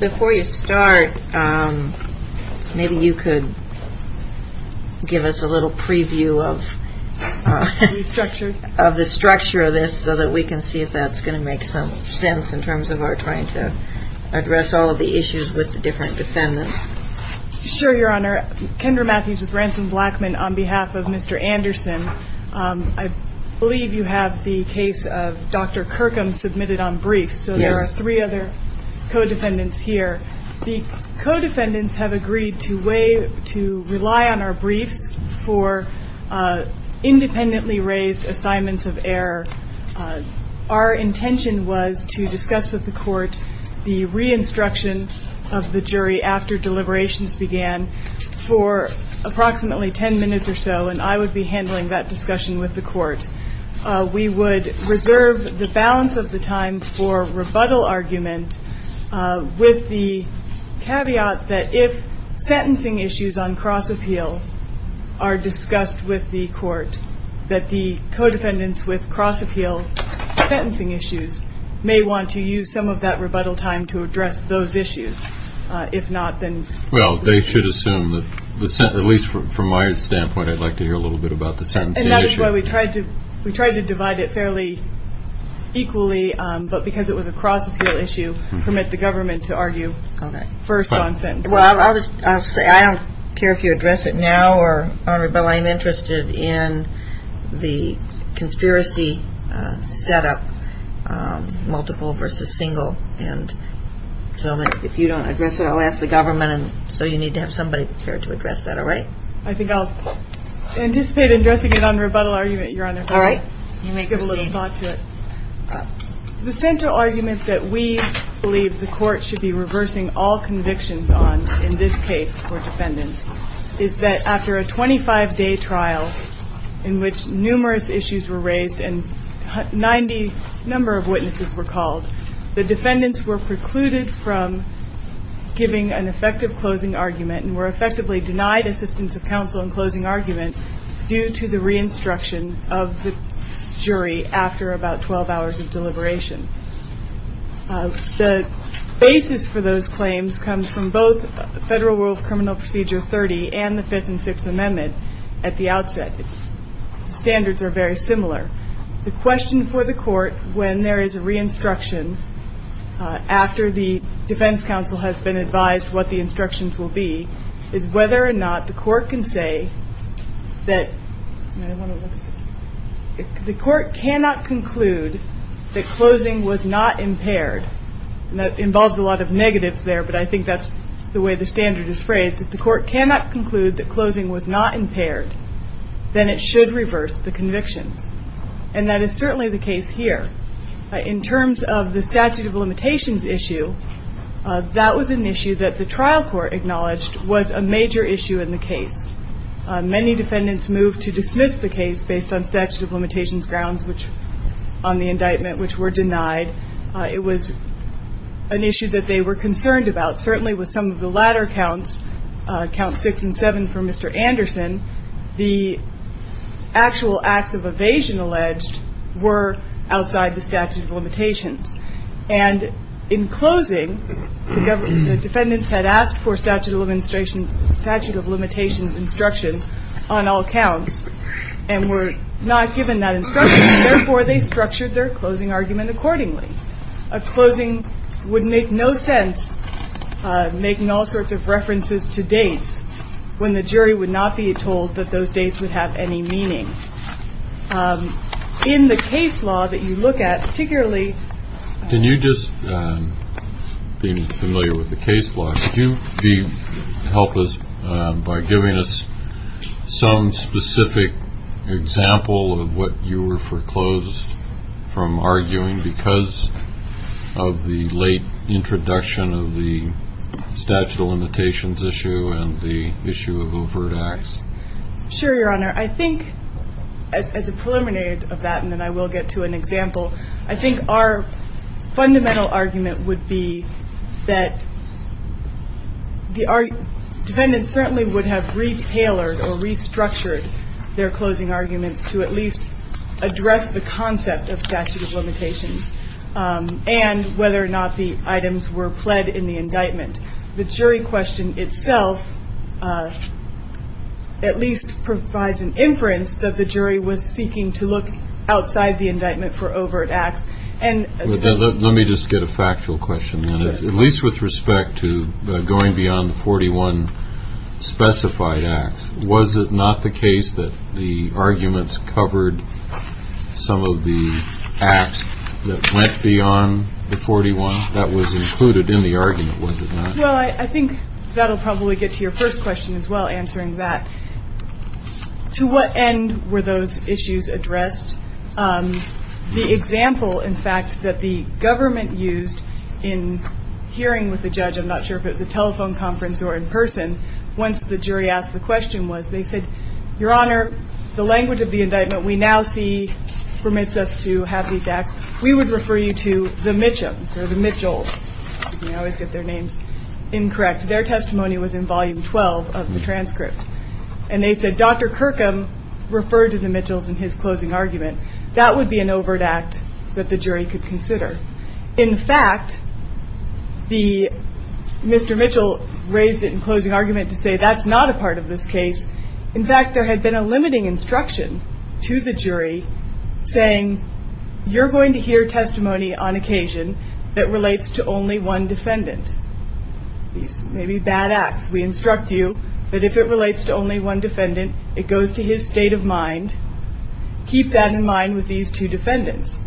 Before you start, maybe you could give us a little preview of the structure of this so that we can see if that's going to make some sense in terms of our trying to address all of the issues with the different defendants. Sure, Your Honor. Kendra Matthews with Ransom Blackmon on behalf of Mr. Anderson. I believe you have the case of Dr. Kirkham submitted on briefs, so there are three other co-defendants here. The co-defendants have agreed to rely on our briefs for independently raised assignments of error. Our intention was to discuss with the court the re-instruction of the jury after deliberations began for approximately 10 minutes or so, and I would be handling that discussion with the court. We would reserve the balance of the time for rebuttal argument with the caveat that if sentencing issues on cross appeal are discussed with the court, that the co-defendants with cross appeal sentencing issues may want to use some of that rebuttal time to address those issues. If not, then Well, they should assume that, at least from my standpoint, I'd like to hear a little bit about the sentencing issue. And that is why we tried to divide it fairly equally, but because it was a cross appeal issue, permit the government to argue first on sentencing. Well, I'll just say, I don't care if you address it now, or, Honorable, I'm interested in the conspiracy set up, multiple versus single, and so if you don't address it, I'll ask the government, and so you need to have somebody prepared to address that, all right? I think I'll anticipate addressing it on rebuttal argument, Your Honor. All right. Let me give a little thought to it. The central argument that we believe the court should be reversing all convictions on in this case for defendants is that after a 25-day trial in which numerous issues were raised and 90 number of witnesses were called, the defendants were precluded from giving an effective closing argument and were effectively denied assistance of counsel in closing argument due to the re-instruction of the jury after about 12 hours of deliberation. The basis for those claims comes from both Federal Rule of Criminal Procedure 30 and the Fifth and Sixth Amendment at the outset. The standards are very similar. The question for the court when there is a re-instruction after the defense counsel has been advised what the instructions will be is whether or not the court can say that the court cannot conclude that closing was not impaired, and that involves a lot of negatives there, but I think that's the way the standard is phrased. If the court cannot conclude that closing was not impaired, then it should reverse the convictions, and that is certainly the second issue that the trial court acknowledged was a major issue in the case. Many defendants moved to dismiss the case based on statute of limitations grounds which on the indictment which were denied. It was an issue that they were concerned about. Certainly with some of the latter counts, Counts 6 and 7 for Mr. Anderson, the actual acts of evasion alleged were outside the statute of limitations. And in closing, the defendants had asked for statute of limitations instruction on all counts and were not given that instruction, and therefore they structured their closing argument accordingly. A closing would make no sense making all sorts of references to dates when the jury would not be told that those dates would have any meaning. In the case law that you look at, particularly Can you just, being familiar with the case law, could you help us by giving us some specific example of what you were foreclosed from arguing because of the late introduction of the statute of limitations issue and the issue of overt acts? Sure, Your Honor. I think as a preliminary of that, and then I will get to an example, I think our fundamental argument would be that the defendants certainly would have retailored or restructured their closing arguments to at least address the concept of statute of in the indictment. The jury question itself at least provides an inference that the jury was seeking to look outside the indictment for overt acts. Let me just get a factual question then. At least with respect to going beyond the 41 specified acts, was it not the case that the arguments covered some of the acts that went beyond the 41 that was included in the argument, was it not? Well, I think that will probably get to your first question as well, answering that. To what end were those issues addressed? The example, in fact, that the government used in hearing with the judge, I'm not sure if it was a telephone conference or in person, once the jury asked the question was, they said, Your Honor, the language of the indictment we now see permits us to have these acts. We would refer you to the Mitchums or the Mitchells. I always get their names incorrect. Their testimony was in volume 12 of the transcript. And they said, Dr. Kirkham referred to the Mitchells in his closing argument. That would be an overt act that the jury could consider. In fact, Mr. Mitchell raised it in closing argument to say that's not a part of this case. In fact, there had been a limiting instruction to the jury, saying, You're going to hear testimony on occasion that relates to only one defendant. These may be bad acts. We instruct you that if it relates to only one defendant, it goes to his state of mind. Keep that in mind with these two defendants.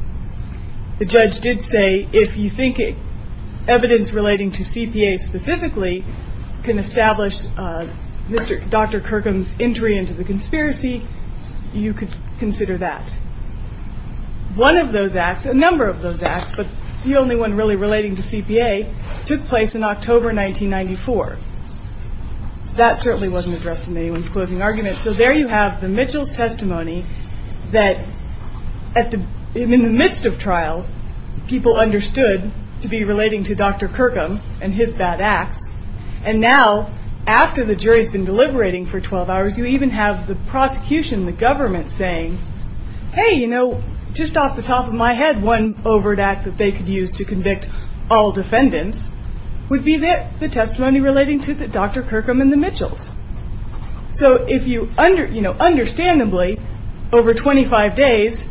The judge did say, If you think evidence relating to CPA specifically can establish Dr. Kirkham's entry into the conspiracy, you could consider that. One of those acts, a number of those acts, but the only one really relating to CPA, took place in October 1994. That certainly wasn't addressed in anyone's closing argument. So there you have the Mitchells testimony that in the midst of trial, people understood to be relating to Dr. Kirkham and his bad acts. And now, after the jury's been deliberating for 12 hours, you even have the prosecution, the government, saying, Hey, you know, just off the top of my head, one overt act that they could use to convict all defendants would be the testimony relating to Dr. Kirkham and the Mitchells. So understandably, over 25 days,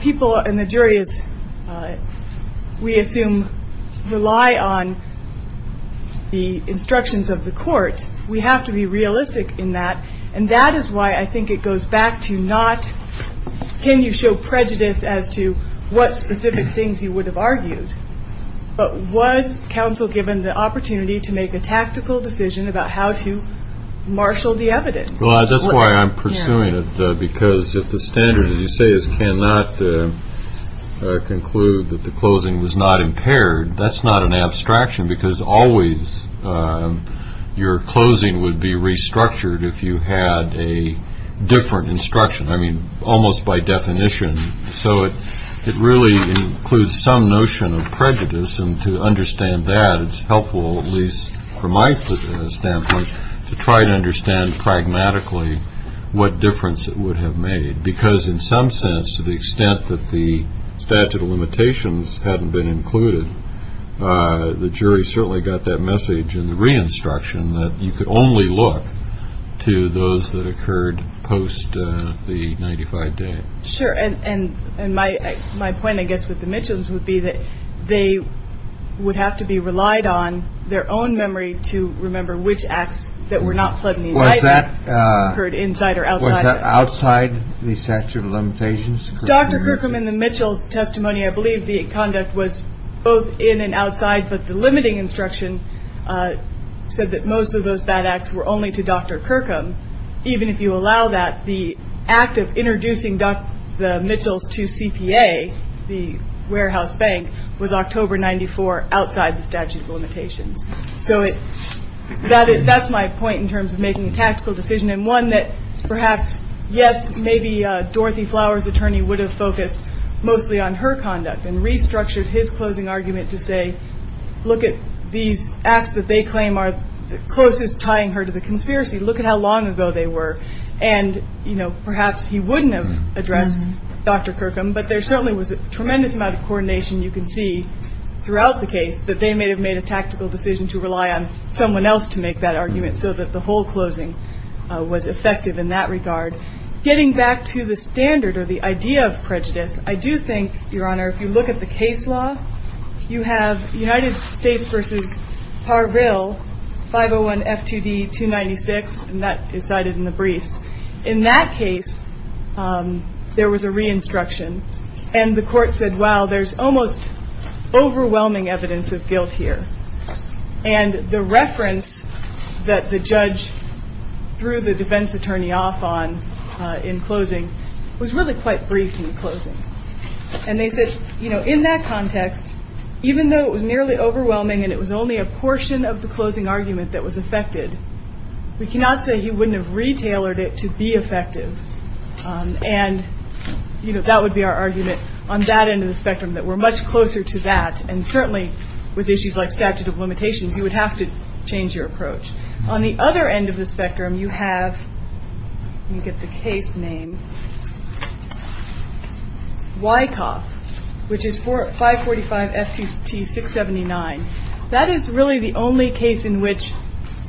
people and the jury, we assume, rely on the instructions of the court. We have to be realistic in that. And that is why I think it goes back to not, Can you show prejudice as to what specific things you would have argued? But was counsel given the opportunity to make a tactical decision about how to marshal the evidence? Well, that's why I'm pursuing it. Because if the standard, as you say, is cannot conclude that the closing was not impaired, that's not an abstraction. Because always, your closing would be restructured if you had a different instruction. I mean, almost by definition. So it really includes some notion of prejudice. And to understand that, it's helpful, at least from my standpoint, to try to understand pragmatically what difference it would have made. Because in some sense, to the extent that the statute of limitations hadn't been included, the jury certainly got that message in the re-instruction that you could only look to those that occurred post the 95 days. Sure. And my point, I guess, with the Mitchells would be that they would have to be relied on their own memory to remember which acts that were not fled in the United States occurred inside or outside. Was that outside the statute of limitations? Dr. Kirkham, in the Mitchells testimony, I believe the conduct was both in and outside. But the limiting instruction said that most of those bad acts were only to Dr. Kirkham. Even if you allow that, the act of introducing the Mitchells to CPA, the warehouse bank, was October 94, outside the statute of limitations. So that's my point in terms of making a tactical decision and one that perhaps, yes, maybe Dorothy Flowers' attorney would have focused mostly on her conduct and restructured his closing argument to say, look at these acts that they claim are closest tying her to the conspiracy. Look at how long ago they were. And perhaps he wouldn't have addressed Dr. Kirkham, but there certainly was a tremendous amount of coordination you can see throughout the case that they may have made a tactical decision to rely on someone else to make that argument so that the whole closing was effective in that regard. Getting back to the standard or the idea of prejudice, I do think, Your Honor, if you look at the case law, you have United States v. Parville, 501 F2D 296, and that is cited in the briefs. In that case, there was a re-instruction. And the court said, wow, there's almost overwhelming evidence of guilt here. And the reference that the judge threw the defense attorney off on in closing was really quite brief in closing. And they said, in that context, even though it was nearly overwhelming and it was only a portion of the closing argument that was affected, we cannot say he wouldn't have re-tailored it to be effective. And that would be our argument on that end of the spectrum, that we're much closer to that. And certainly with issues like statute of limitations, you would have to change your approach. On the other end of the spectrum, you have, let me get the case name, Wyckoff, which is 545 F2T 679. That is really the only case in which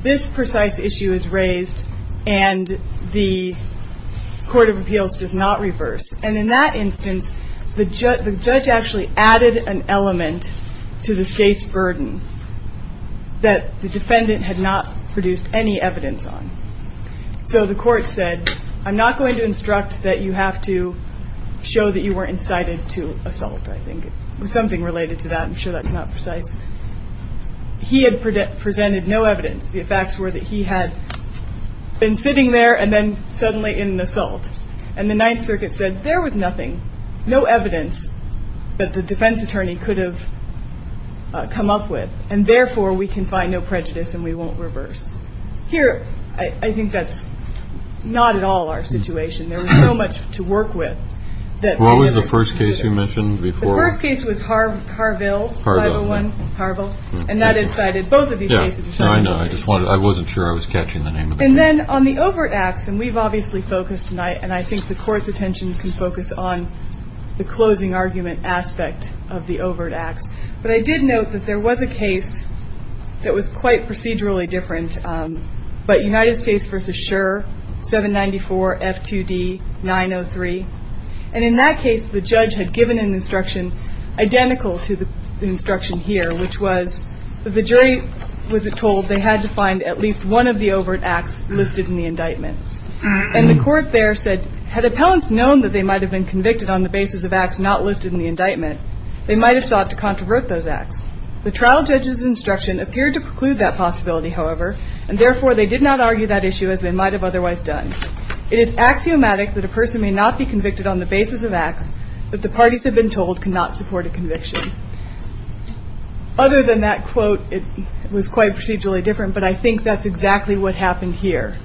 this precise issue is raised and the court of appeals does not reverse. And in that instance, the judge actually added an element to the state's burden that the defendant had not produced any evidence on. So the court said, I'm not going to instruct that you have to show that you were incited to assault, I think. It was something related to that. I'm sure that's not precise. He had presented no evidence. The facts were that he had been sitting there and then suddenly in an assault. And the Ninth Circuit said, there was nothing, no evidence that the defense attorney could have come up with. And therefore, we can find no prejudice and we won't reverse. Here, I think that's not at all our situation. There was so much to work with that we didn't consider. What was the first case you mentioned before? The first case was Harville, 501 Harville. And that incited both of these cases. Yeah, I know. I just wanted, I wasn't sure I was catching the name of the case. And then on the overt acts, and we've obviously focused tonight, and I think the court's attention can focus on the closing argument aspect of the overt acts. But I did note that there was a case that was quite procedurally different, but United States v. Scherr, 794 F2D 903. And in that case, the judge had given an instruction identical to the instruction here, which was that the jury was told they had to find at least one of the overt acts listed in the indictment. And the court there said, had appellants known that they might have been convicted on the basis of acts not listed in the indictment, they might have sought to controvert those acts. The trial judge's instruction appeared to preclude that possibility, however, and therefore, they did not argue that issue as they might have otherwise done. It is axiomatic that a person may not be convicted on the basis of acts that the parties have been told cannot support a conviction. Other than that quote, it was quite procedurally different, but I think that's exactly what happened here.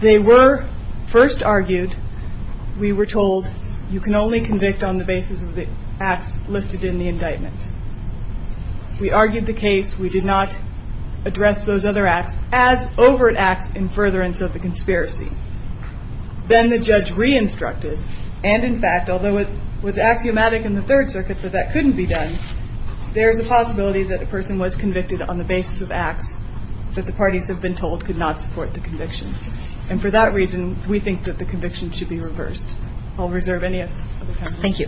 They were first argued, we were told, you can only convict on the basis of the acts listed in the indictment. We argued the case. We did not address those other acts as overt acts in furtherance of the conspiracy. Then the judge re-instructed, and in fact, although it was axiomatic in the Third Circuit that that couldn't be done, there's a possibility that a person was convicted on the basis of acts that the parties have been told could not support the conviction. And for that reason, we think that the conviction should be reversed. I'll reserve any other comments.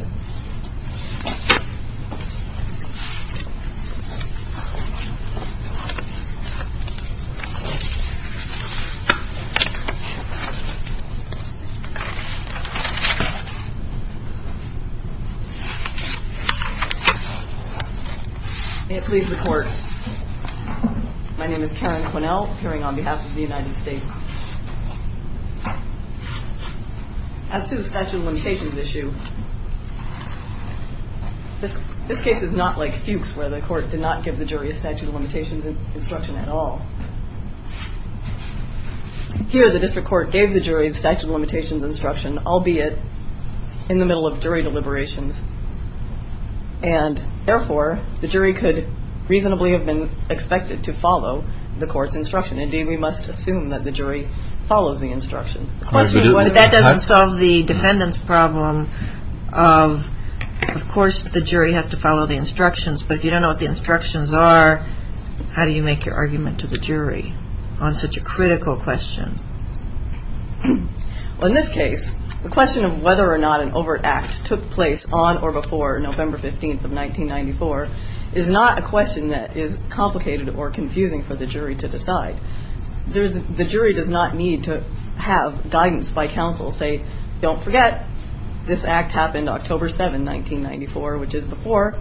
May it please the Court. My name is Karen Quinnell, appearing on behalf of the United States. As to the statute of limitations issue, this case is not like Fuchs, where the court did not give the jury a statute of limitations instruction at all. Here, the district court gave the jury a statute of limitations instruction, albeit in the middle of jury deliberations. And therefore, the jury could reasonably have been expected to follow the court's instruction. Indeed, we must assume that the jury follows the instruction. But that doesn't solve the defendant's problem of, of course, the jury has to follow the instructions are, how do you make your argument to the jury on such a critical question? Well, in this case, the question of whether or not an overt act took place on or before November 15th of 1994 is not a question that is complicated or confusing for the jury to decide. The jury does not need to have guidance by counsel say, don't forget, this act happened October 7, 1994, which is before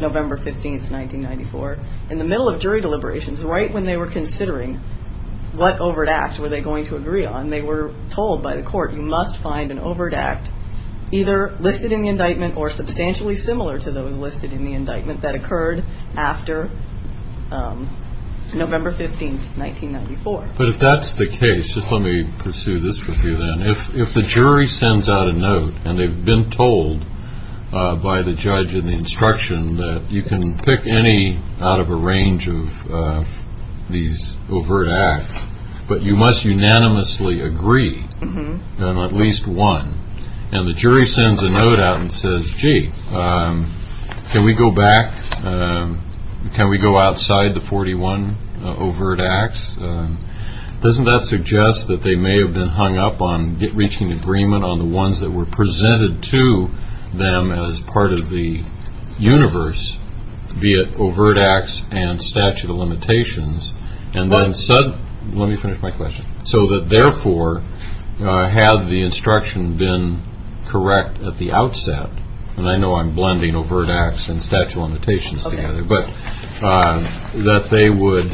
November 15th, 1994. In the middle of jury deliberations, right when they were considering what overt act were they going to agree on, they were told by the court, you must find an overt act either listed in the indictment or substantially similar to those listed in the indictment that occurred after November 15th, 1994. But if that's the case, just let me pursue this with you then. If, if the jury sends out a note and they've been told by the judge in the instruction that you can pick any out of a range of these overt acts, but you must unanimously agree on at least one, and the jury sends a note out and says, gee, can we go back? Can we go outside the 41 overt acts? Doesn't that suggest that they may have been hung up on reaching agreement on the ones that were presented to them as part of the universe, be it overt acts and statute of limitations, and then said, let me finish my question. So that therefore, had the instruction been correct at the outset, and I know I'm blending overt acts and statute of limitations together, but that they would,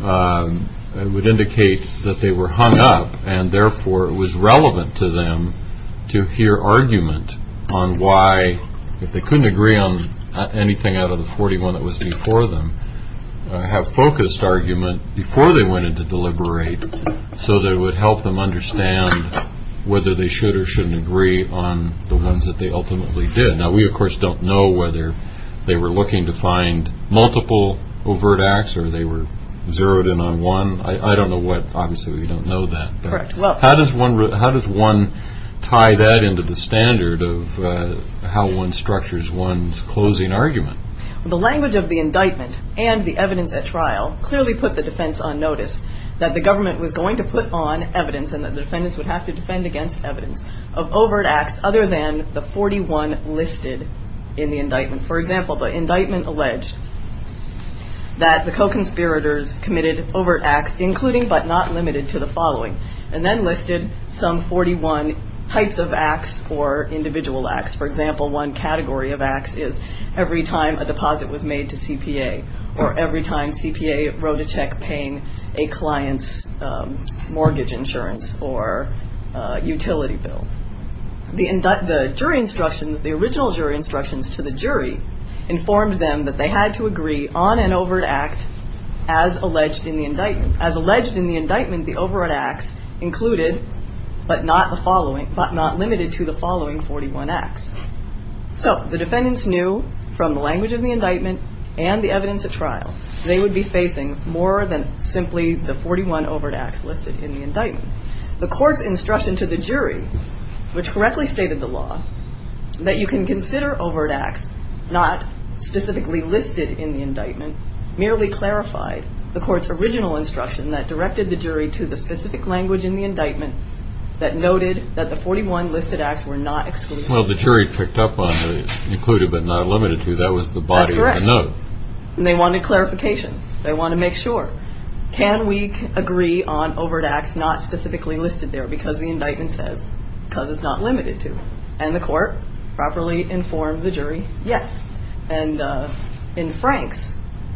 it would indicate that they were hung up and therefore it was relevant to them to hear argument on why, if they couldn't agree on anything out of the 41 that was before them, have focused argument before they went into deliberate so that it would help them understand whether they should or shouldn't agree on the ones that they ultimately did. Now we, of course, don't know whether they were looking to find multiple overt acts or they were zeroed in on one. I don't know what, obviously we don't know that, but how does one tie that into the standard of how one structures one's closing argument? The language of the indictment and the evidence at trial clearly put the defense on notice that the government was going to put on evidence and that the defendants would have to defend against evidence of overt acts other than the 41 listed in the indictment. For example, the indictment alleged that the co-conspirators committed overt acts, including but not limited to the following, and then listed some 41 types of acts or individual acts. For example, one category of acts is every time a deposit was made to CPA or every time CPA wrote a utility bill. The jury instructions, the original jury instructions to the jury informed them that they had to agree on an overt act as alleged in the indictment. As alleged in the indictment, the overt acts included but not the following, but not limited to the following 41 acts. So the defendants knew from the language of the indictment and the evidence at trial, they would be facing more than simply the 41 overt acts listed in the indictment. The jury, which correctly stated the law, that you can consider overt acts not specifically listed in the indictment, merely clarified the court's original instruction that directed the jury to the specific language in the indictment that noted that the 41 listed acts were not excluded. Well, the jury picked up on the included but not limited to. That was the body of the note. That's correct. And they wanted clarification. They wanted to make sure. Can we agree on what it says? Because it's not limited to. And the court properly informed the jury, yes. And in Frank's,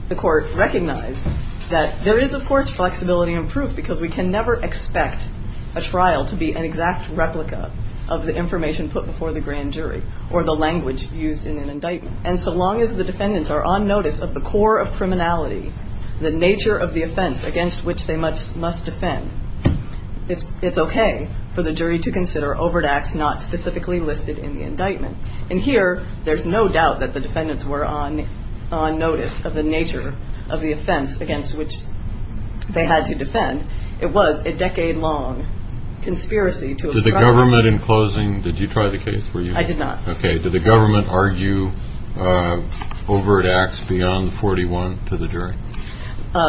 the court recognized that there is, of course, flexibility in proof because we can never expect a trial to be an exact replica of the information put before the grand jury or the language used in an indictment. And so long as the defendants are on notice of the core of criminality, the nature of the offense against which they must defend, it's okay for the jury to consider overt acts not specifically listed in the indictment. And here, there's no doubt that the defendants were on notice of the nature of the offense against which they had to defend. It was a decade-long conspiracy to obstruct the court. Did the government, in closing, did you try the case, were you? I did not. Okay. Did the government argue overt acts beyond the 41 to the jury?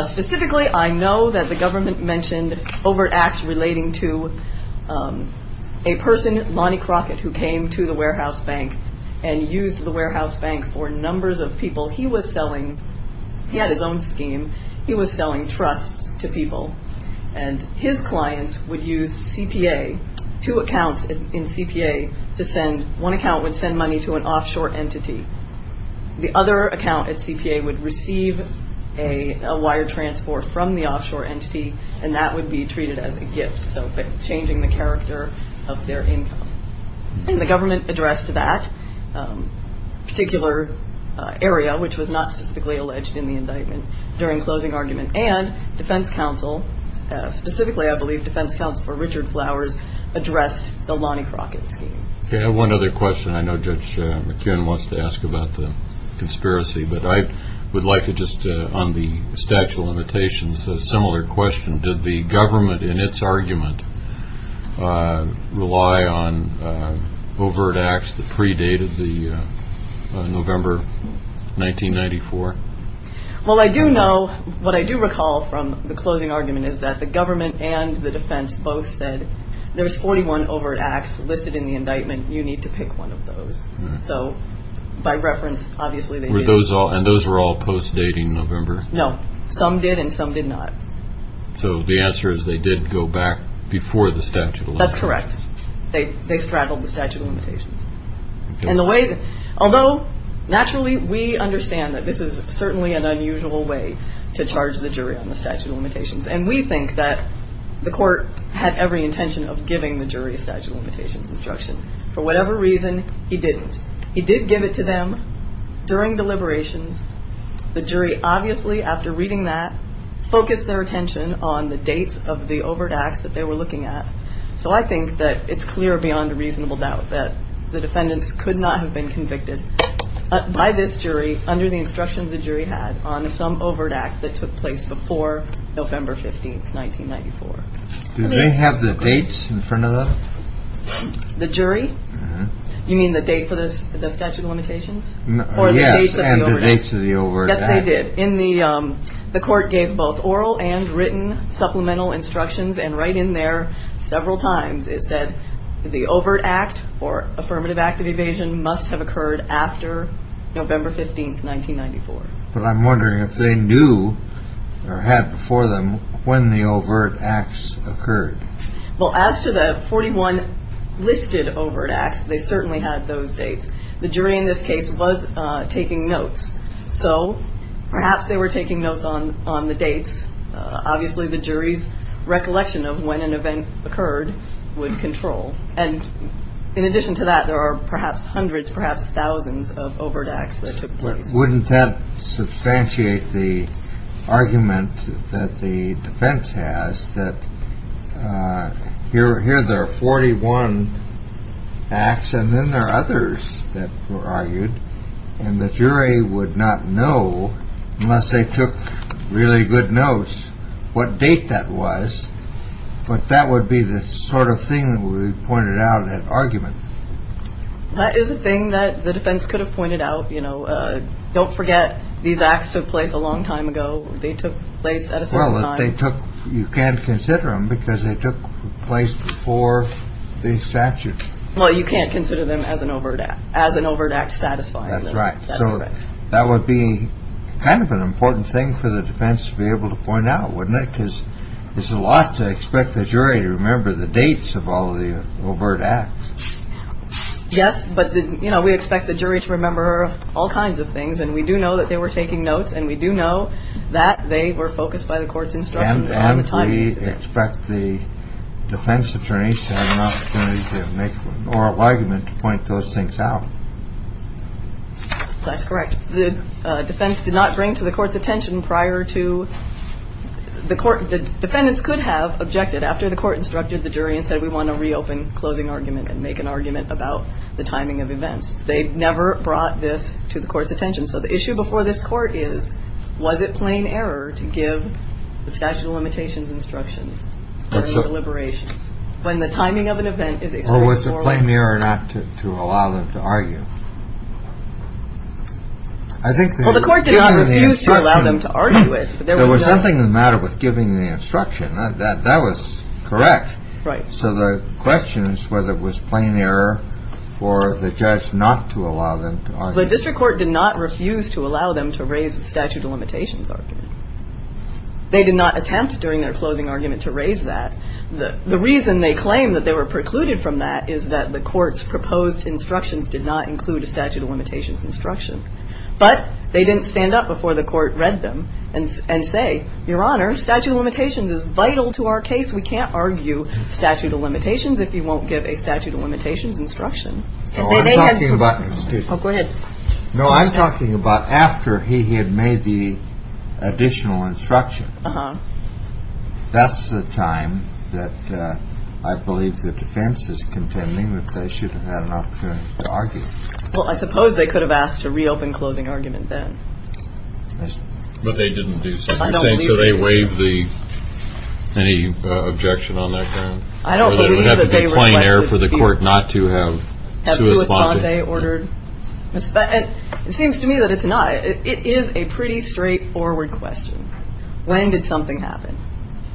Specifically, I know that the government mentioned overt acts relating to a person, Lonnie Crockett, who came to the warehouse bank and used the warehouse bank for numbers of people. He was selling, he had his own scheme, he was selling trusts to people. And his clients would use CPA, two accounts in CPA to send, one account would send money to an offshore entity. The other account at CPA would receive a wire transport from the offshore entity, and that would be treated as a gift, so changing the character of their income. And the government addressed that particular area, which was not specifically alleged in the indictment, during closing argument. And defense counsel, specifically I believe defense counsel for Richard Flowers, addressed the Lonnie Crockett scheme. I have one other question. I know Judge McKeon wants to ask about the conspiracy, but I would like to just, on the statute of limitations, a similar question. Did the government, in its argument, rely on overt acts that predated the November 1994? Well, I do know, what I do recall from the closing argument is that the government and the defense both said, there's 41 overt acts listed in the indictment, you need to pick one of those. So, by reference, obviously they did. And those were all post-dating November? No. Some did and some did not. So the answer is they did go back before the statute of limitations? That's correct. They straddled the statute of limitations. And the way, although naturally we understand that this is certainly an unusual way to charge the jury on the statute of limitations. And we think that the court had every intention of giving the jury a statute of limitations instruction. For whatever reason, he didn't. He did give it to them during deliberations. The jury obviously, after reading that, focused their attention on the dates of the overt acts that they were looking at. So I think that it's clear beyond a reasonable doubt that the defendants could not have been convicted by this jury under the instructions the jury had on some overt act that took place before November 15th, 1994. Do they have the dates in front of them? The jury? You mean the date for the statute of limitations? Yes, and the dates of the overt act. Yes, they did. The court gave both oral and written supplemental instructions. And right in there, several times, it said the overt act or affirmative act of evasion must have occurred. But I'm wondering if they knew or had before them when the overt acts occurred. Well, as to the 41 listed overt acts, they certainly had those dates. The jury in this case was taking notes. So perhaps they were taking notes on the dates. Obviously, the jury's recollection of when an event occurred would control. And in addition to that, there are perhaps hundreds, perhaps thousands of overt acts that took place. Wouldn't that substantiate the argument that the defense has that here there are 41 acts and then there are others that were argued and the jury would not know, unless they took really good notes, what date that was. But that would be the sort of thing that we pointed out in that argument. That is a thing that the defense could have pointed out. You know, don't forget, these acts took place a long time ago. They took place at a time. Well, they took. You can't consider them because they took place before the statute. Well, you can't consider them as an overt act as an overt act satisfying. That's right. So that would be kind of an important thing for the defense to be able to point out, wouldn't it? Because there's a lot to expect the jury to remember the dates of all the overt acts. Yes. But, you know, we expect the jury to remember all kinds of things. And we do know that they were taking notes and we do know that they were focused by the court's instruction on the time. We expect the defense attorneys to have an opportunity to make oral argument to point those things out. That's correct. The defense did not bring to the court's attention prior to the court. The defendants could have objected after the court instructed the jury and said, we want to reopen closing argument and make an argument about the timing of events. They never brought this to the court's attention. So the issue before this court is, was it plain error to give the statute of limitations instruction deliberations when the timing of an event is always a plain mirror not to allow them to argue? I think the court refused to allow them to argue it. There was nothing the matter with giving the instruction that that was correct. Right. So the question is whether it was plain error for the judge not to allow them. The district court did not refuse to allow them to raise the statute of limitations. They did not attempt during their closing argument to raise that. The reason they claim that they were precluded from that is that the court's proposed instructions did not include a statute of limitations instruction, but they didn't stand up before the court read them and say, Your Honor, statute of limitations is vital to our case. We can't argue statute of limitations if you won't give a statute of limitations instruction. No, I'm talking about after he had made the additional instruction. That's the time that I believe the defense is contending that they should have had an opportunity to argue. Well, I suppose they could have asked to reopen closing argument then. But they didn't do so. So they waive the any objection on that. I don't believe that they were playing there for the court not to have to respond. They ordered. It seems to me that it's not. It is a pretty straightforward question. When did something happen?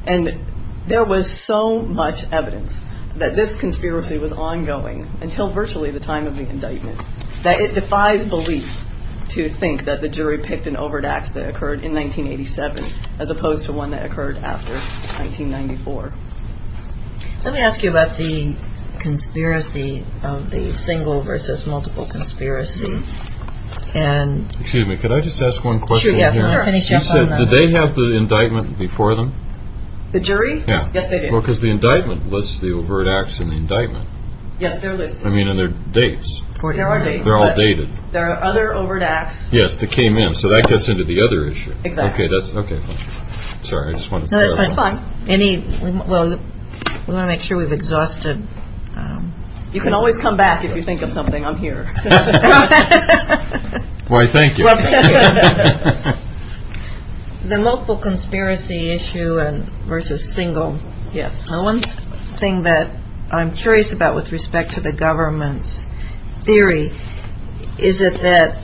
And there was so much evidence that this conspiracy was ongoing until virtually the time of the indictment that it defies belief to think that the jury picked an overt act that occurred in 1987, as opposed to one that occurred after 1994. Let me ask you about the conspiracy of the single versus multiple conspiracy. Excuse me. Could I just ask one question? Did they have the indictment before them? The jury? Yes, they did. Well, because the indictment lists the overt acts in the indictment. Yes, they're listed. I mean, and they're dates. There are dates. They're all dated. There are other overt acts. Yes, that came in. So that gets into the other issue. Exactly. Okay, fine. Sorry. No, that's fine. We want to make sure we've exhausted. You can always come back if you think of something. I'm here. Why, thank you. The multiple conspiracy issue versus single. Yes. The one thing that I'm curious about with respect to the government's theory, is it that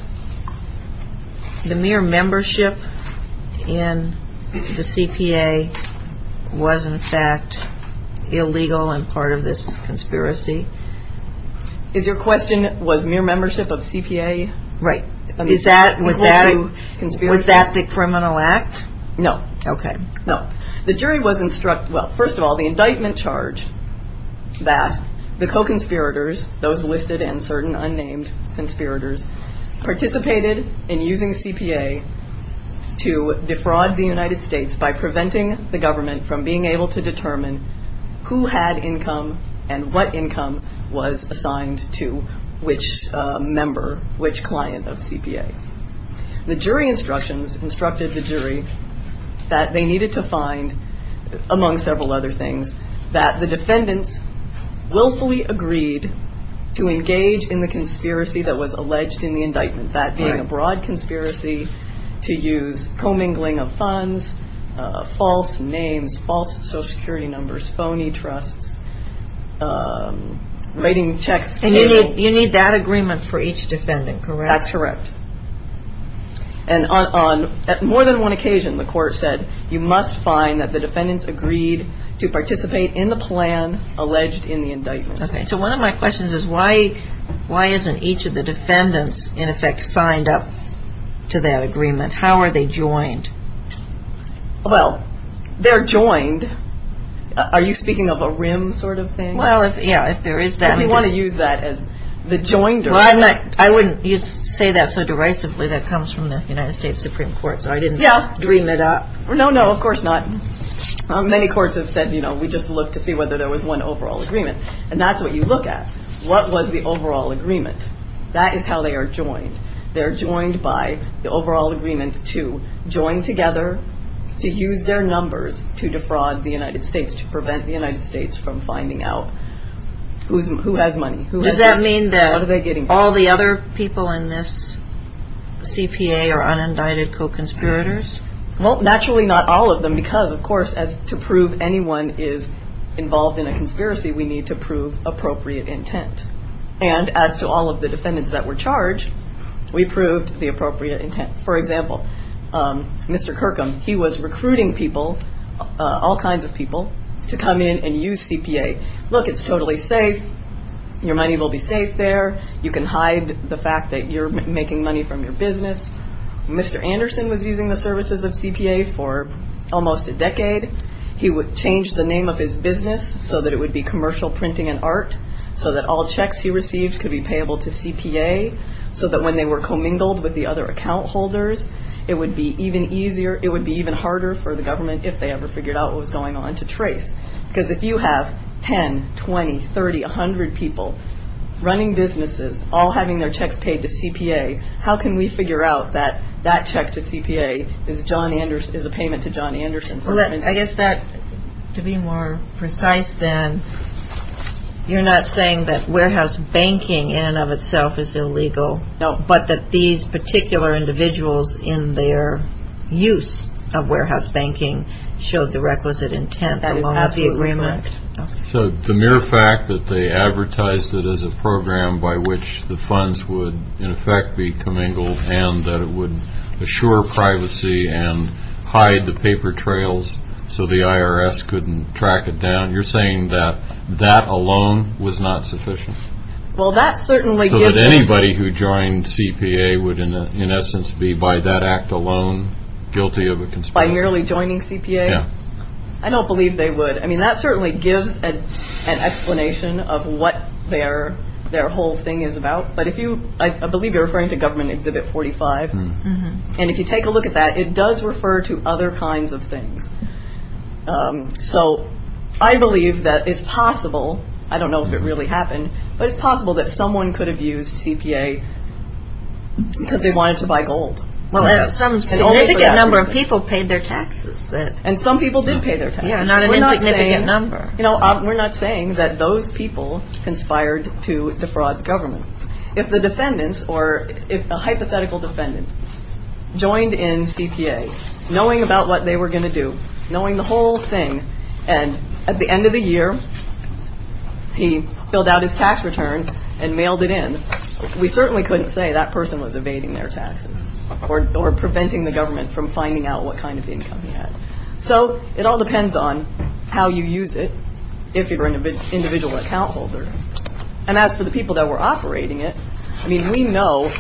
the mere membership in the CPA was, in fact, illegal and part of this conspiracy? Is your question was mere membership of CPA? Right. Was that the criminal act? No. Okay. No. The jury was instructed, well, first of all, the indictment charged that the co-conspirators, those listed and certain unnamed conspirators, participated in using CPA to defraud the United States by preventing the government from being able to determine who had income and what income was assigned to which member, which client of CPA. The jury instructions instructed the jury that they needed to find, among several other things, that the defendants willfully agreed to engage in the conspiracy that was alleged in the indictment, that being a broad conspiracy to use commingling of funds, false names, false social security numbers, phony trusts, writing checks. And you need that agreement for each defendant, correct? That's correct. And on more than one occasion, the court said, you must find that the defendants agreed to participate in the plan alleged in the indictment. Okay. So one of my questions is why isn't each of the defendants, in effect, signed up to that agreement? How are they joined? Well, they're joined. Are you speaking of a rim sort of thing? Well, yeah, if there is that. We want to use that as the joinder. I wouldn't say that so derisively. That comes from the United States Supreme Court. So I didn't dream it up. No, no, of course not. Many courts have said, you know, we just looked to see whether there was one overall agreement. And that's what you look at. What was the overall agreement? That is how they are joined. They're joined by the overall agreement to join together, to use their numbers to defraud the United States, to prevent the United States from finding out who has money. Does that mean that all the other people in this CPA are unindicted co-conspirators? Well, naturally not all of them because, of course, as to prove anyone is involved in a conspiracy, we need to prove appropriate intent. And as to all of the defendants that were charged, we proved the appropriate intent. For example, Mr. Kirkham, he was recruiting people, all kinds of people, to come in and use CPA. Look, it's totally safe. Your money will be safe there. You can hide the fact that you're making money from your business. Mr. Anderson was using the services of CPA for almost a decade. He would change the name of his business so that it would be commercial printing and art so that all checks he received could be payable to CPA so that when they were commingled with the other account holders, it would be even harder for the government, if they ever figured out what was going on, to trace. Because if you have 10, 20, 30, 100 people running businesses, all having their checks paid to CPA, how can we figure out that that check to CPA is a payment to John Anderson? Well, I guess that, to be more precise then, you're not saying that warehouse banking in and of itself is illegal, but that these particular individuals in their use of warehouse banking showed the requisite intent of the agreement. That is absolutely correct. So the mere fact that they advertised it as a program by which the funds would, in effect, be commingled and that it would assure privacy and hide the paper trails so the IRS couldn't track it down, you're saying that that alone was not sufficient? Well, that certainly gives us... So that anybody who joined CPA would, in essence, be by that act alone guilty of a conspiracy? By merely joining CPA? Yeah. I don't believe they would. I mean, that certainly gives an explanation of what their whole thing is about. But I believe you're referring to Government Exhibit 45. And if you take a look at that, it does refer to other kinds of things. So I believe that it's possible, I don't know if it really happened, but it's possible that someone could have used CPA because they wanted to buy gold. Well, some significant number of people paid their taxes. And some people did pay their taxes. Yeah, not an insignificant number. You know, we're not saying that those people conspired to defraud government. If the defendants or a hypothetical defendant joined in CPA, knowing about what they were going to do, knowing the whole thing, and at the end of the year he filled out his tax return and mailed it in, we certainly couldn't say that person was evading their taxes or preventing the government from finding out what kind of income he had. So it all depends on how you use it, if you're an individual account holder. And as for the people that were operating it, I mean, we know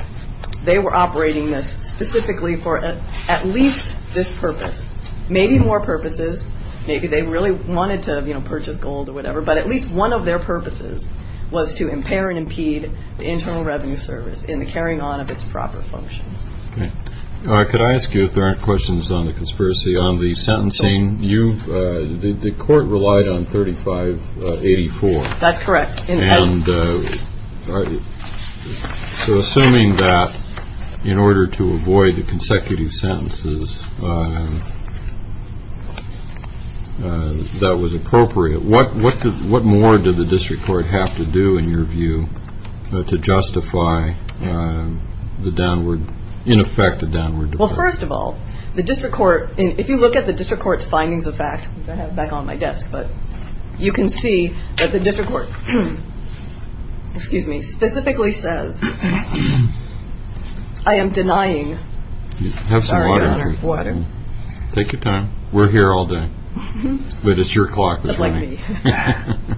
they were operating this specifically for at least this purpose. Maybe more purposes. Maybe they really wanted to, you know, purchase gold or whatever. But at least one of their purposes was to impair and impede the Internal Revenue Service in the carrying on of its proper functions. Okay. Could I ask you, if there aren't questions on the conspiracy, on the sentencing? The court relied on 3584. That's correct. So assuming that in order to avoid the consecutive sentences, that was appropriate, what more did the district court have to do, in your view, to justify the downward, in effect, the downward depression? Well, first of all, the district court, if you look at the district court's findings of fact, which I have back on my desk, but you can see that the district court, excuse me, specifically says, I am denying. Have some water. Water. Take your time. We're here all day. But it's your clock that's running. Just like me.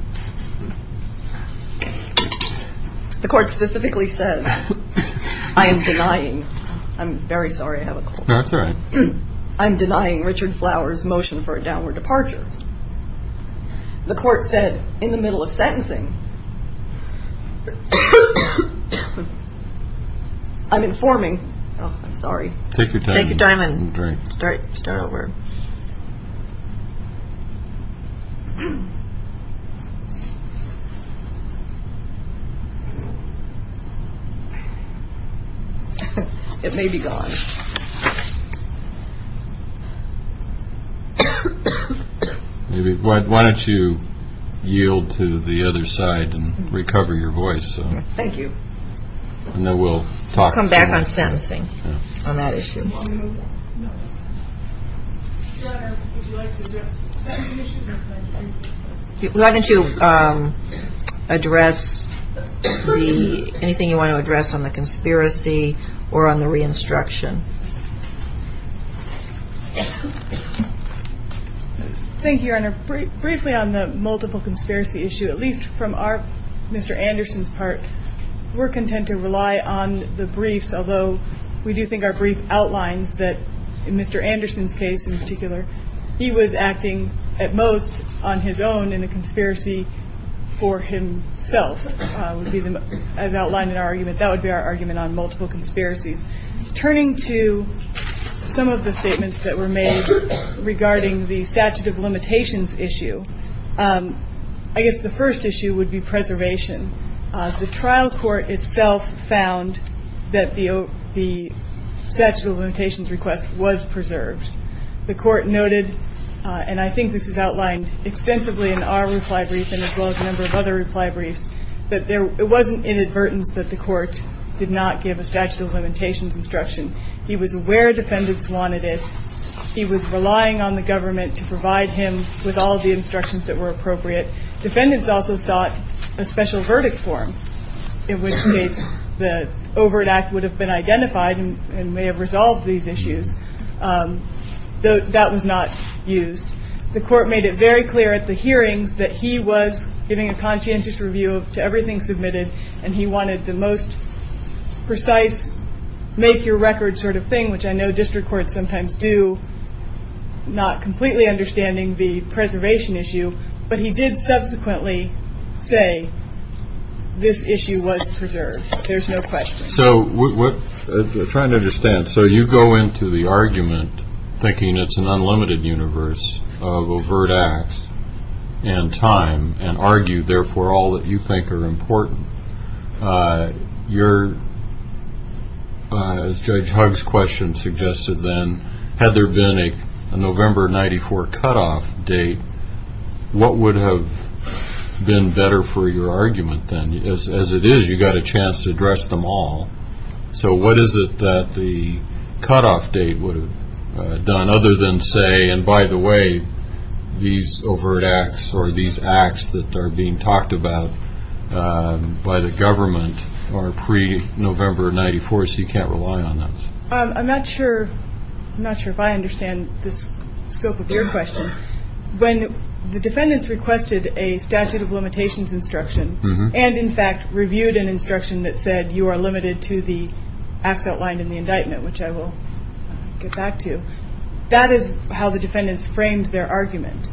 The court specifically says, I am denying. I'm very sorry. I have a cold. That's all right. I'm denying Richard Flower's motion for a downward departure. The court said, in the middle of sentencing, I'm informing. Oh, I'm sorry. Take your time. Take your time and drink. Start over. It may be gone. Why don't you yield to the other side and recover your voice? Thank you. I'll come back on sentencing on that issue. Why don't you address anything you want to address on the conspiracy or on the re-instruction? Briefly on the multiple conspiracy issue, at least from Mr. Anderson's part, we're content to rely on the briefs, although we do think our brief outlines that, in Mr. Anderson's case in particular, he was acting at most on his own in a conspiracy for himself. As outlined in our argument, that would be our argument on multiple conspiracies. Turning to some of the statements that were made regarding the statute of limitations issue, I guess the first issue would be preservation. The trial court itself found that the statute of limitations request was preserved. The court noted, and I think this is outlined extensively in our reply brief and as well as a number of other reply briefs, that it wasn't inadvertence that the court did not give a statute of limitations instruction. He was aware defendants wanted it. He was relying on the government to provide him with all the instructions that were appropriate. Defendants also sought a special verdict form, in which case the Overt Act would have been identified and may have resolved these issues. That was not used. The court made it very clear at the hearings that he was giving a conscientious review to everything submitted, and he wanted the most precise make your record sort of thing, which I know district courts sometimes do not completely understanding the preservation issue. But he did subsequently say this issue was preserved. There's no question. I'm trying to understand. So you go into the argument thinking it's an unlimited universe of overt acts and time and argue, therefore, all that you think are important. As Judge Huggs' question suggested then, had there been a November 94 cutoff date, what would have been better for your argument then? As it is, you've got a chance to address them all. So what is it that the cutoff date would have done other than say, and by the way, these overt acts or these acts that are being talked about by the government are pre-November 94, so you can't rely on them. I'm not sure if I understand the scope of your question. When the defendants requested a statute of limitations instruction and, in fact, reviewed an instruction that said you are limited to the acts outlined in the indictment, which I will get back to, that is how the defendants framed their argument.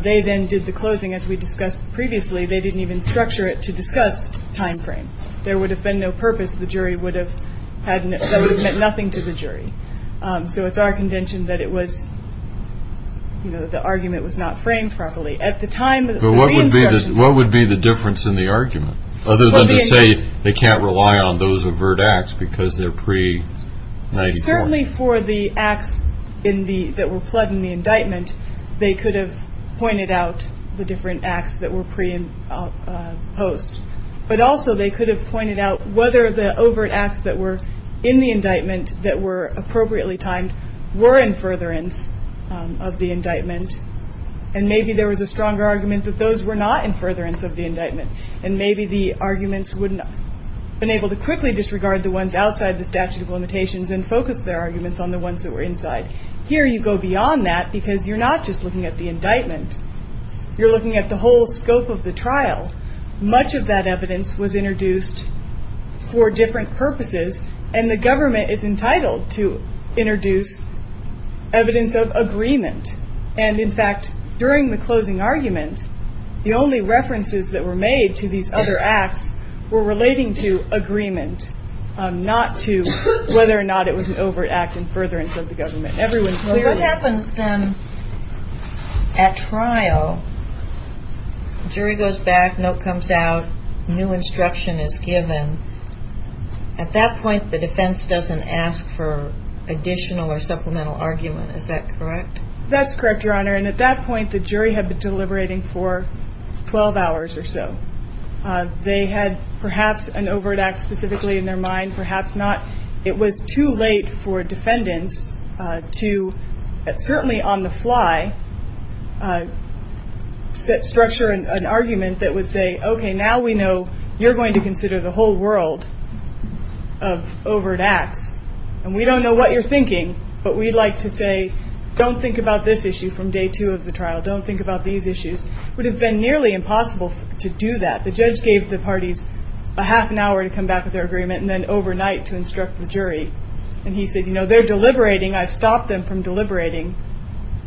They then did the closing, as we discussed previously. They didn't even structure it to discuss time frame. There would have been no purpose. The jury would have had nothing to the jury. So it's our contention that the argument was not framed properly. But what would be the difference in the argument, other than to say they can't rely on those overt acts because they're pre-94? Certainly for the acts that were pled in the indictment, they could have pointed out the different acts that were pre and post. But also they could have pointed out whether the overt acts that were in the indictment that were appropriately timed were in furtherance of the indictment, and maybe there was a stronger argument that those were not in furtherance of the indictment, and maybe the arguments would have been able to quickly disregard the ones outside the statute of limitations and focus their arguments on the ones that were inside. Here you go beyond that because you're not just looking at the indictment. You're looking at the whole scope of the trial. Much of that evidence was introduced for different purposes, and the government is entitled to introduce evidence of agreement. And, in fact, during the closing argument, the only references that were made to these other acts were relating to agreement, not to whether or not it was an overt act in furtherance of the government. What happens then at trial, jury goes back, note comes out, new instruction is given. At that point, the defense doesn't ask for additional or supplemental argument. Is that correct? That's correct, Your Honor. And at that point, the jury had been deliberating for 12 hours or so. They had perhaps an overt act specifically in their mind, perhaps not. It was too late for defendants to certainly on the fly structure an argument that would say, okay, now we know you're going to consider the whole world of overt acts, and we don't know what you're thinking, but we'd like to say, don't think about this issue from day two of the trial. Don't think about these issues. It would have been nearly impossible to do that. The judge gave the parties a half an hour to come back with their agreement and then overnight to instruct the jury. And he said, you know, they're deliberating. I've stopped them from deliberating.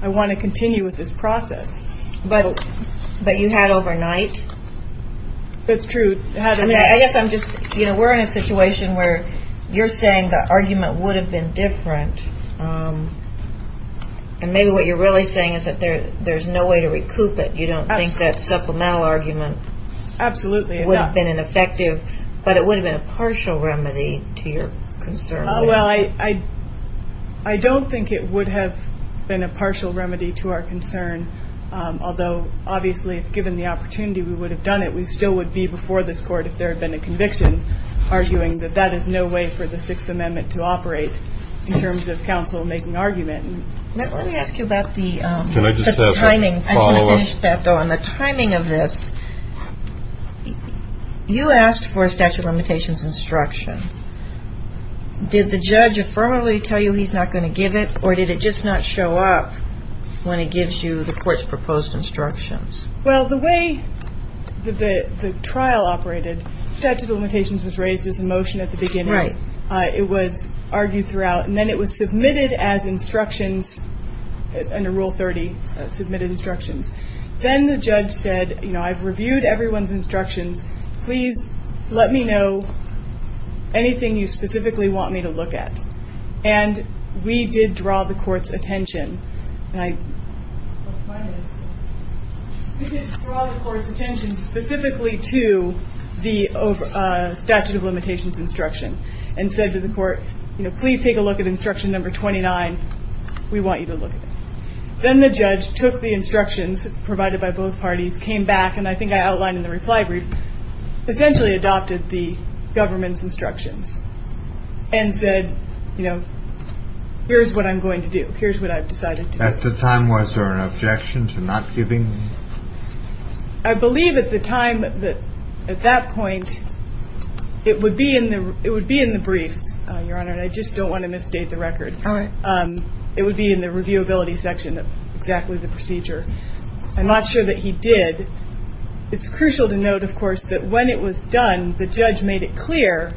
I want to continue with this process. But you had overnight? That's true. I guess I'm just, you know, we're in a situation where you're saying the argument would have been different, and maybe what you're really saying is that there's no way to recoup it. You don't think that supplemental argument would have been effective, but it would have been a partial remedy to your concern. Well, I don't think it would have been a partial remedy to our concern, although obviously given the opportunity we would have done it, we still would be before this court if there had been a conviction, arguing that that is no way for the Sixth Amendment to operate in terms of counsel making argument. Let me ask you about the timing. I want to finish that, though. On the timing of this, you asked for a statute of limitations instruction. Did the judge affirmatively tell you he's not going to give it, or did it just not show up when he gives you the court's proposed instructions? Well, the way the trial operated, statute of limitations was raised as a motion at the beginning. Right. It was argued throughout, and then it was submitted as instructions under Rule 30, submitted instructions. Then the judge said, you know, I've reviewed everyone's instructions. Please let me know anything you specifically want me to look at. And we did draw the court's attention. We did draw the court's attention specifically to the statute of limitations instruction and said to the court, you know, please take a look at instruction number 29. We want you to look at it. Then the judge took the instructions provided by both parties, came back, and I think I outlined in the reply brief, essentially adopted the government's instructions and said, you know, here's what I'm going to do. Here's what I've decided to do. At the time, was there an objection to not giving? I believe at the time, at that point, it would be in the briefs, Your Honor, and I just don't want to misstate the record. All right. It would be in the reviewability section of exactly the procedure. I'm not sure that he did. It's crucial to note, of course, that when it was done, the judge made it clear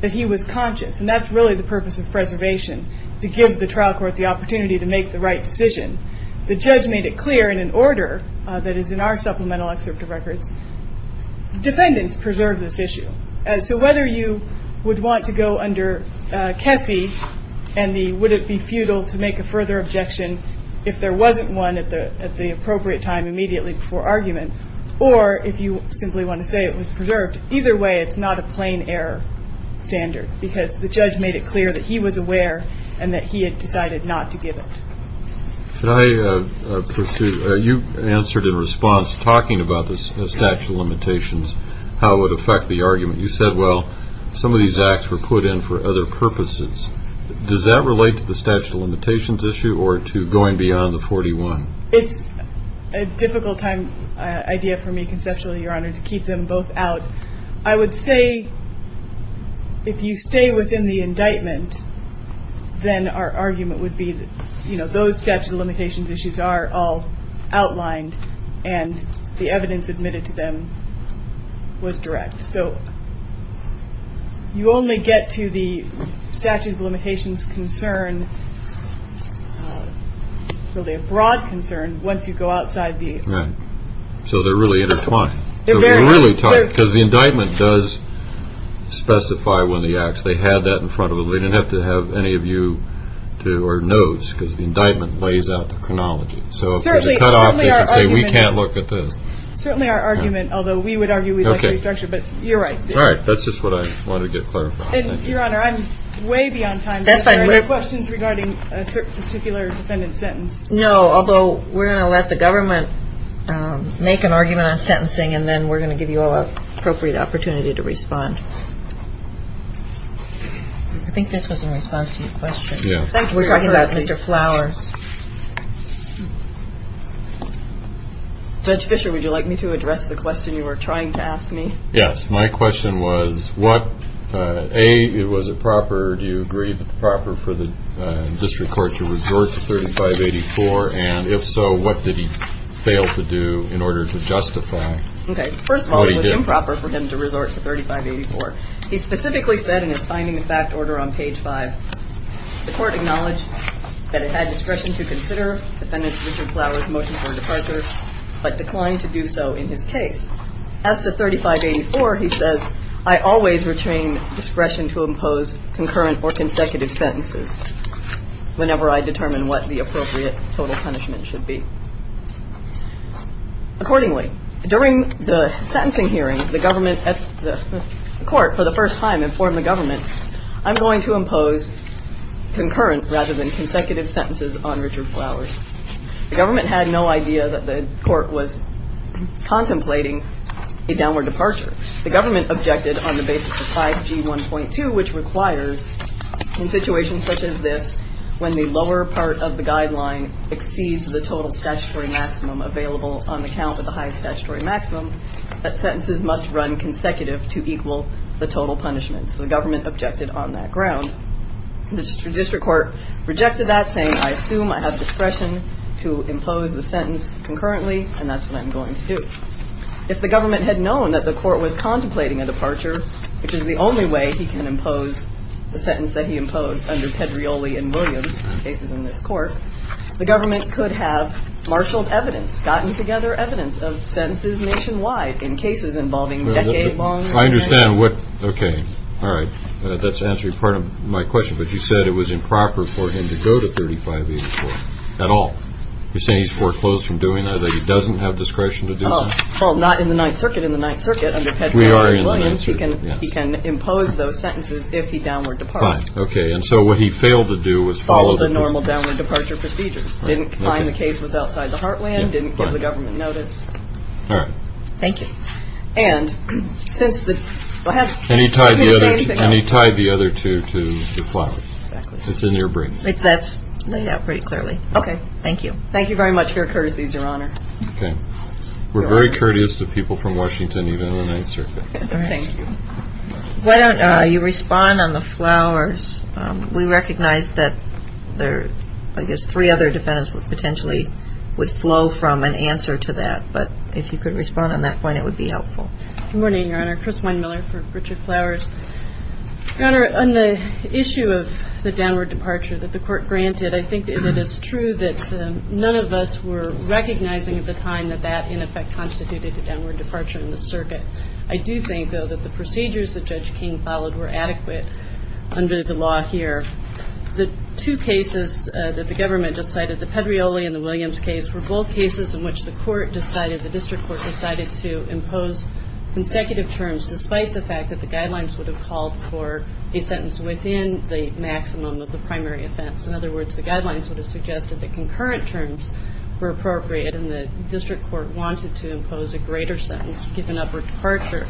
that he was conscious, and that's really the purpose of preservation, to give the trial court the opportunity to make the right decision. The judge made it clear in an order that is in our supplemental excerpt of records. Dependents preserve this issue. So whether you would want to go under Kessy and the would it be futile to make a further objection if there wasn't one at the appropriate time immediately before argument, or if you simply want to say it was preserved, either way, it's not a plain error standard, because the judge made it clear that he was aware and that he had decided not to give it. Could I pursue, you answered in response, talking about the statute of limitations, how it would affect the argument. You said, well, some of these acts were put in for other purposes. Does that relate to the statute of limitations issue or to going beyond the 41? It's a difficult time idea for me conceptually, Your Honor, to keep them both out. I would say if you stay within the indictment, then our argument would be, you know, those statute of limitations issues are all outlined and the evidence admitted to them was direct. So you only get to the statute of limitations concern. Really a broad concern. Once you go outside the. So they're really intertwined. They're really tight because the indictment does specify when they actually had that in front of them. We didn't have to have any of you to our notes because the indictment lays out the chronology. So certainly we can't look at this. Certainly our argument. Although we would argue we'd like to structure. But you're right. All right. That's just what I wanted to clarify. Your Honor, I'm way beyond time. That's fine. Questions regarding a particular defendant sentence. No, although we're going to let the government make an argument on sentencing and then we're going to give you all appropriate opportunity to respond. I think this was in response to your question. We're talking about Mr. Flowers. Judge Fisher, would you like me to address the question you were trying to ask me? Yes. My question was what a it was a proper. Do you agree that the proper for the district court to resort to thirty five eighty four? And if so, what did he fail to do in order to justify? OK. First of all, it was improper for him to resort to thirty five eighty four. He specifically said in his finding the fact order on page five, the court acknowledged that it had discretion to consider the defendant's Richard Flowers motion for departure, but declined to do so in his case as to thirty five eighty four. He says, I always retain discretion to impose concurrent or consecutive sentences whenever I determine what the appropriate total punishment should be. Accordingly, during the sentencing hearing, the government at the court for the first time informed the government, I'm going to impose concurrent rather than consecutive sentences on Richard Flowers. The government had no idea that the court was contemplating a downward departure. The government objected on the basis of 5G 1.2, which requires in situations such as this, when the lower part of the guideline exceeds the total statutory maximum available on the count of the highest statutory maximum, that sentences must run consecutive to equal the total punishment. So the government objected on that ground. The district court rejected that saying, I assume I have discretion to impose the sentence concurrently. And that's what I'm going to do. If the government had known that the court was contemplating a departure, which is the only way he can impose the sentence that he imposed under Pedrioli and Williams cases in this court, the government could have marshaled evidence, gotten together evidence of sentences nationwide in cases involving a long time. I understand what, okay, all right. That's answering part of my question. But you said it was improper for him to go to 35A at all. You're saying he's foreclosed from doing that, that he doesn't have discretion to do that? Well, not in the Ninth Circuit. In the Ninth Circuit, under Pedrioli and Williams, he can impose those sentences if he downward departs. Fine. Okay. And so what he failed to do was follow the normal downward departure procedures. Didn't find the case was outside the heartland, didn't give the government notice. All right. Thank you. And he tied the other two to the flowers. Exactly. It's in your brief. That's laid out pretty clearly. Okay. Thank you. Thank you very much for your courtesies, Your Honor. Okay. We're very courteous to people from Washington, even in the Ninth Circuit. All right. Thank you. Why don't you respond on the flowers? We recognize that there are, I guess, three other defendants who potentially would flow from an answer to that. But if you could respond on that point, it would be helpful. Good morning, Your Honor. Chris Weinmiller for Richard Flowers. Your Honor, on the issue of the downward departure that the court granted, I think that it is true that none of us were recognizing at the time that that, in effect, constituted a downward departure in the circuit. I do think, though, that the procedures that Judge King followed were adequate under the law here. The two cases that the government just cited, the Pedrioli and the Williams case, were both cases in which the court decided, the district court decided to impose consecutive terms, despite the fact that the guidelines would have called for a sentence within the maximum of the primary offense. In other words, the guidelines would have suggested that concurrent terms were appropriate and the district court wanted to impose a greater sentence given upward departure.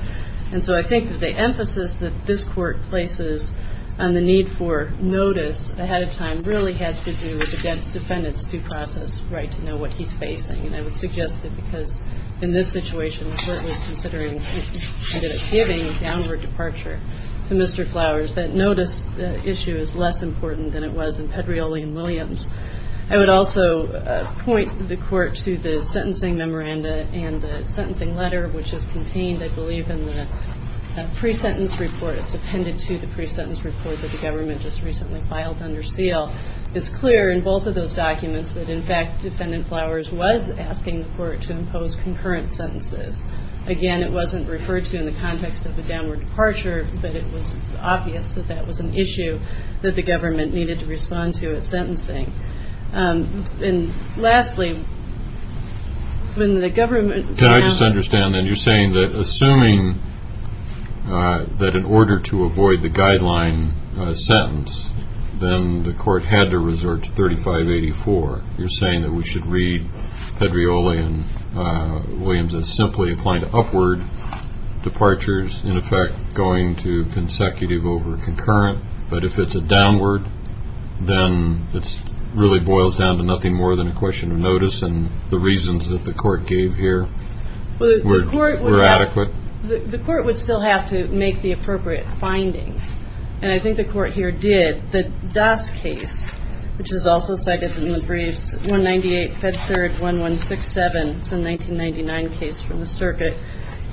And so I think that the emphasis that this court places on the need for notice ahead of time really has to do with the defendant's due process right to know what he's facing. And I would suggest that because in this situation, the court was considering that it's giving a downward departure to Mr. Flowers, that notice issue is less important than it was in Pedrioli and Williams. I would also point the court to the sentencing memoranda and the sentencing letter, which is contained, I believe, in the pre-sentence report. It's appended to the pre-sentence report that the government just recently filed under seal. It's clear in both of those documents that, in fact, Defendant Flowers was asking the court to impose concurrent sentences. Again, it wasn't referred to in the context of a downward departure, but it was obvious that that was an issue that the government needed to respond to at sentencing. And lastly, when the government- I just understand that you're saying that assuming that in order to avoid the guideline sentence, then the court had to resort to 3584. You're saying that we should read Pedrioli and Williams as simply applying to upward departures, in effect going to consecutive over concurrent. But if it's a downward, then it really boils down to nothing more than a question of notice and the reasons that the court gave here were adequate. The court would still have to make the appropriate findings, and I think the court here did. The Doss case, which is also cited in the briefs, 198, Fed Third, 1167, it's a 1999 case from the circuit,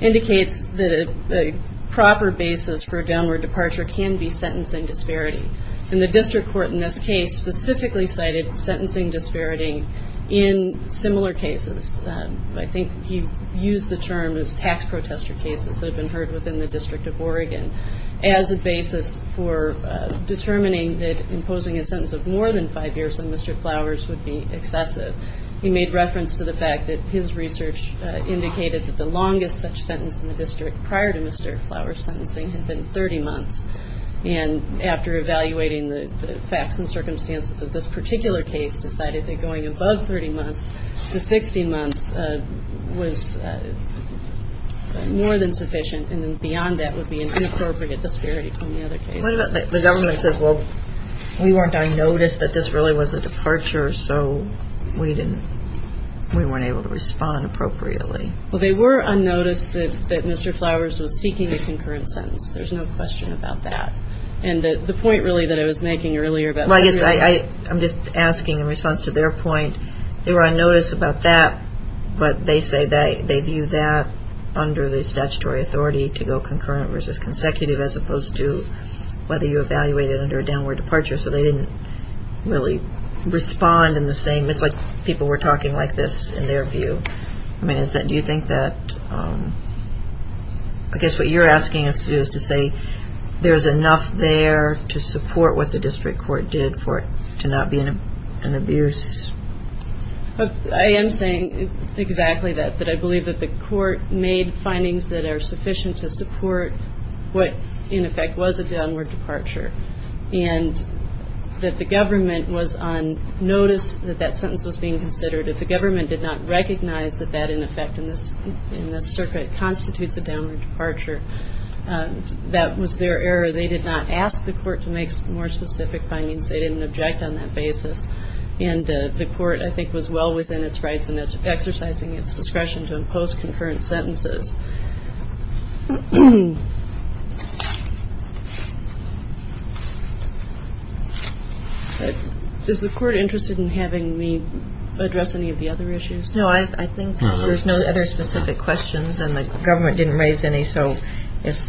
indicates that a proper basis for a downward departure can be sentencing disparity. And the district court in this case specifically cited sentencing disparity in similar cases. I think he used the term as tax protester cases that have been heard within the District of Oregon as a basis for determining that imposing a sentence of more than five years on Mr. Flowers would be excessive. He made reference to the fact that his research indicated that the longest such sentence in the district prior to Mr. Flowers' sentencing had been 30 months. And after evaluating the facts and circumstances of this particular case, decided that going above 30 months to 60 months was more than sufficient and beyond that would be an inappropriate disparity from the other cases. What about the government says, well, we weren't unnoticed that this really was a departure, so we weren't able to respond appropriately? Well, they were unnoticed that Mr. Flowers was seeking a concurrent sentence. There's no question about that. And the point, really, that I was making earlier about that. Well, I guess I'm just asking in response to their point, they were unnoticed about that, but they say they view that under the statutory authority to go concurrent versus consecutive as opposed to whether you evaluate it under a downward departure, so they didn't really respond in the same. It's like people were talking like this in their view. I mean, do you think that I guess what you're asking us to do is to say there's enough there to support what the district court did for it to not be an abuse? I am saying exactly that, that I believe that the court made findings that are sufficient to support what, in effect, was a downward departure and that the government was unnoticed that that sentence was being considered. If the government did not recognize that that, in effect, in this circuit constitutes a downward departure, that was their error. They did not ask the court to make more specific findings. They didn't object on that basis. And the court, I think, was well within its rights and exercising its discretion to impose concurrent sentences. Is the court interested in having me address any of the other issues? No, I think there's no other specific questions and the government didn't raise any. So if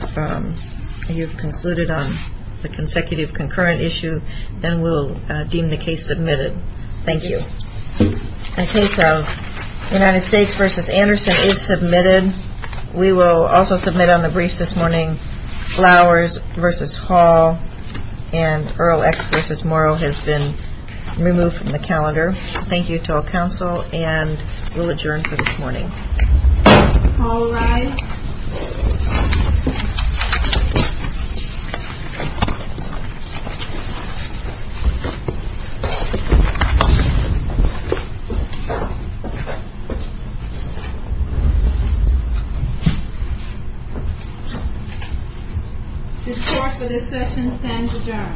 you've concluded on the consecutive concurrent issue, then we'll deem the case submitted. Thank you. Okay. So the United States versus Anderson is submitted. We will also submit on the briefs this morning. Flowers versus Hall and Earl X versus Morrow has been removed from the calendar. Thank you to all counsel and we'll adjourn for this morning. All rise. The court for this session stands adjourned.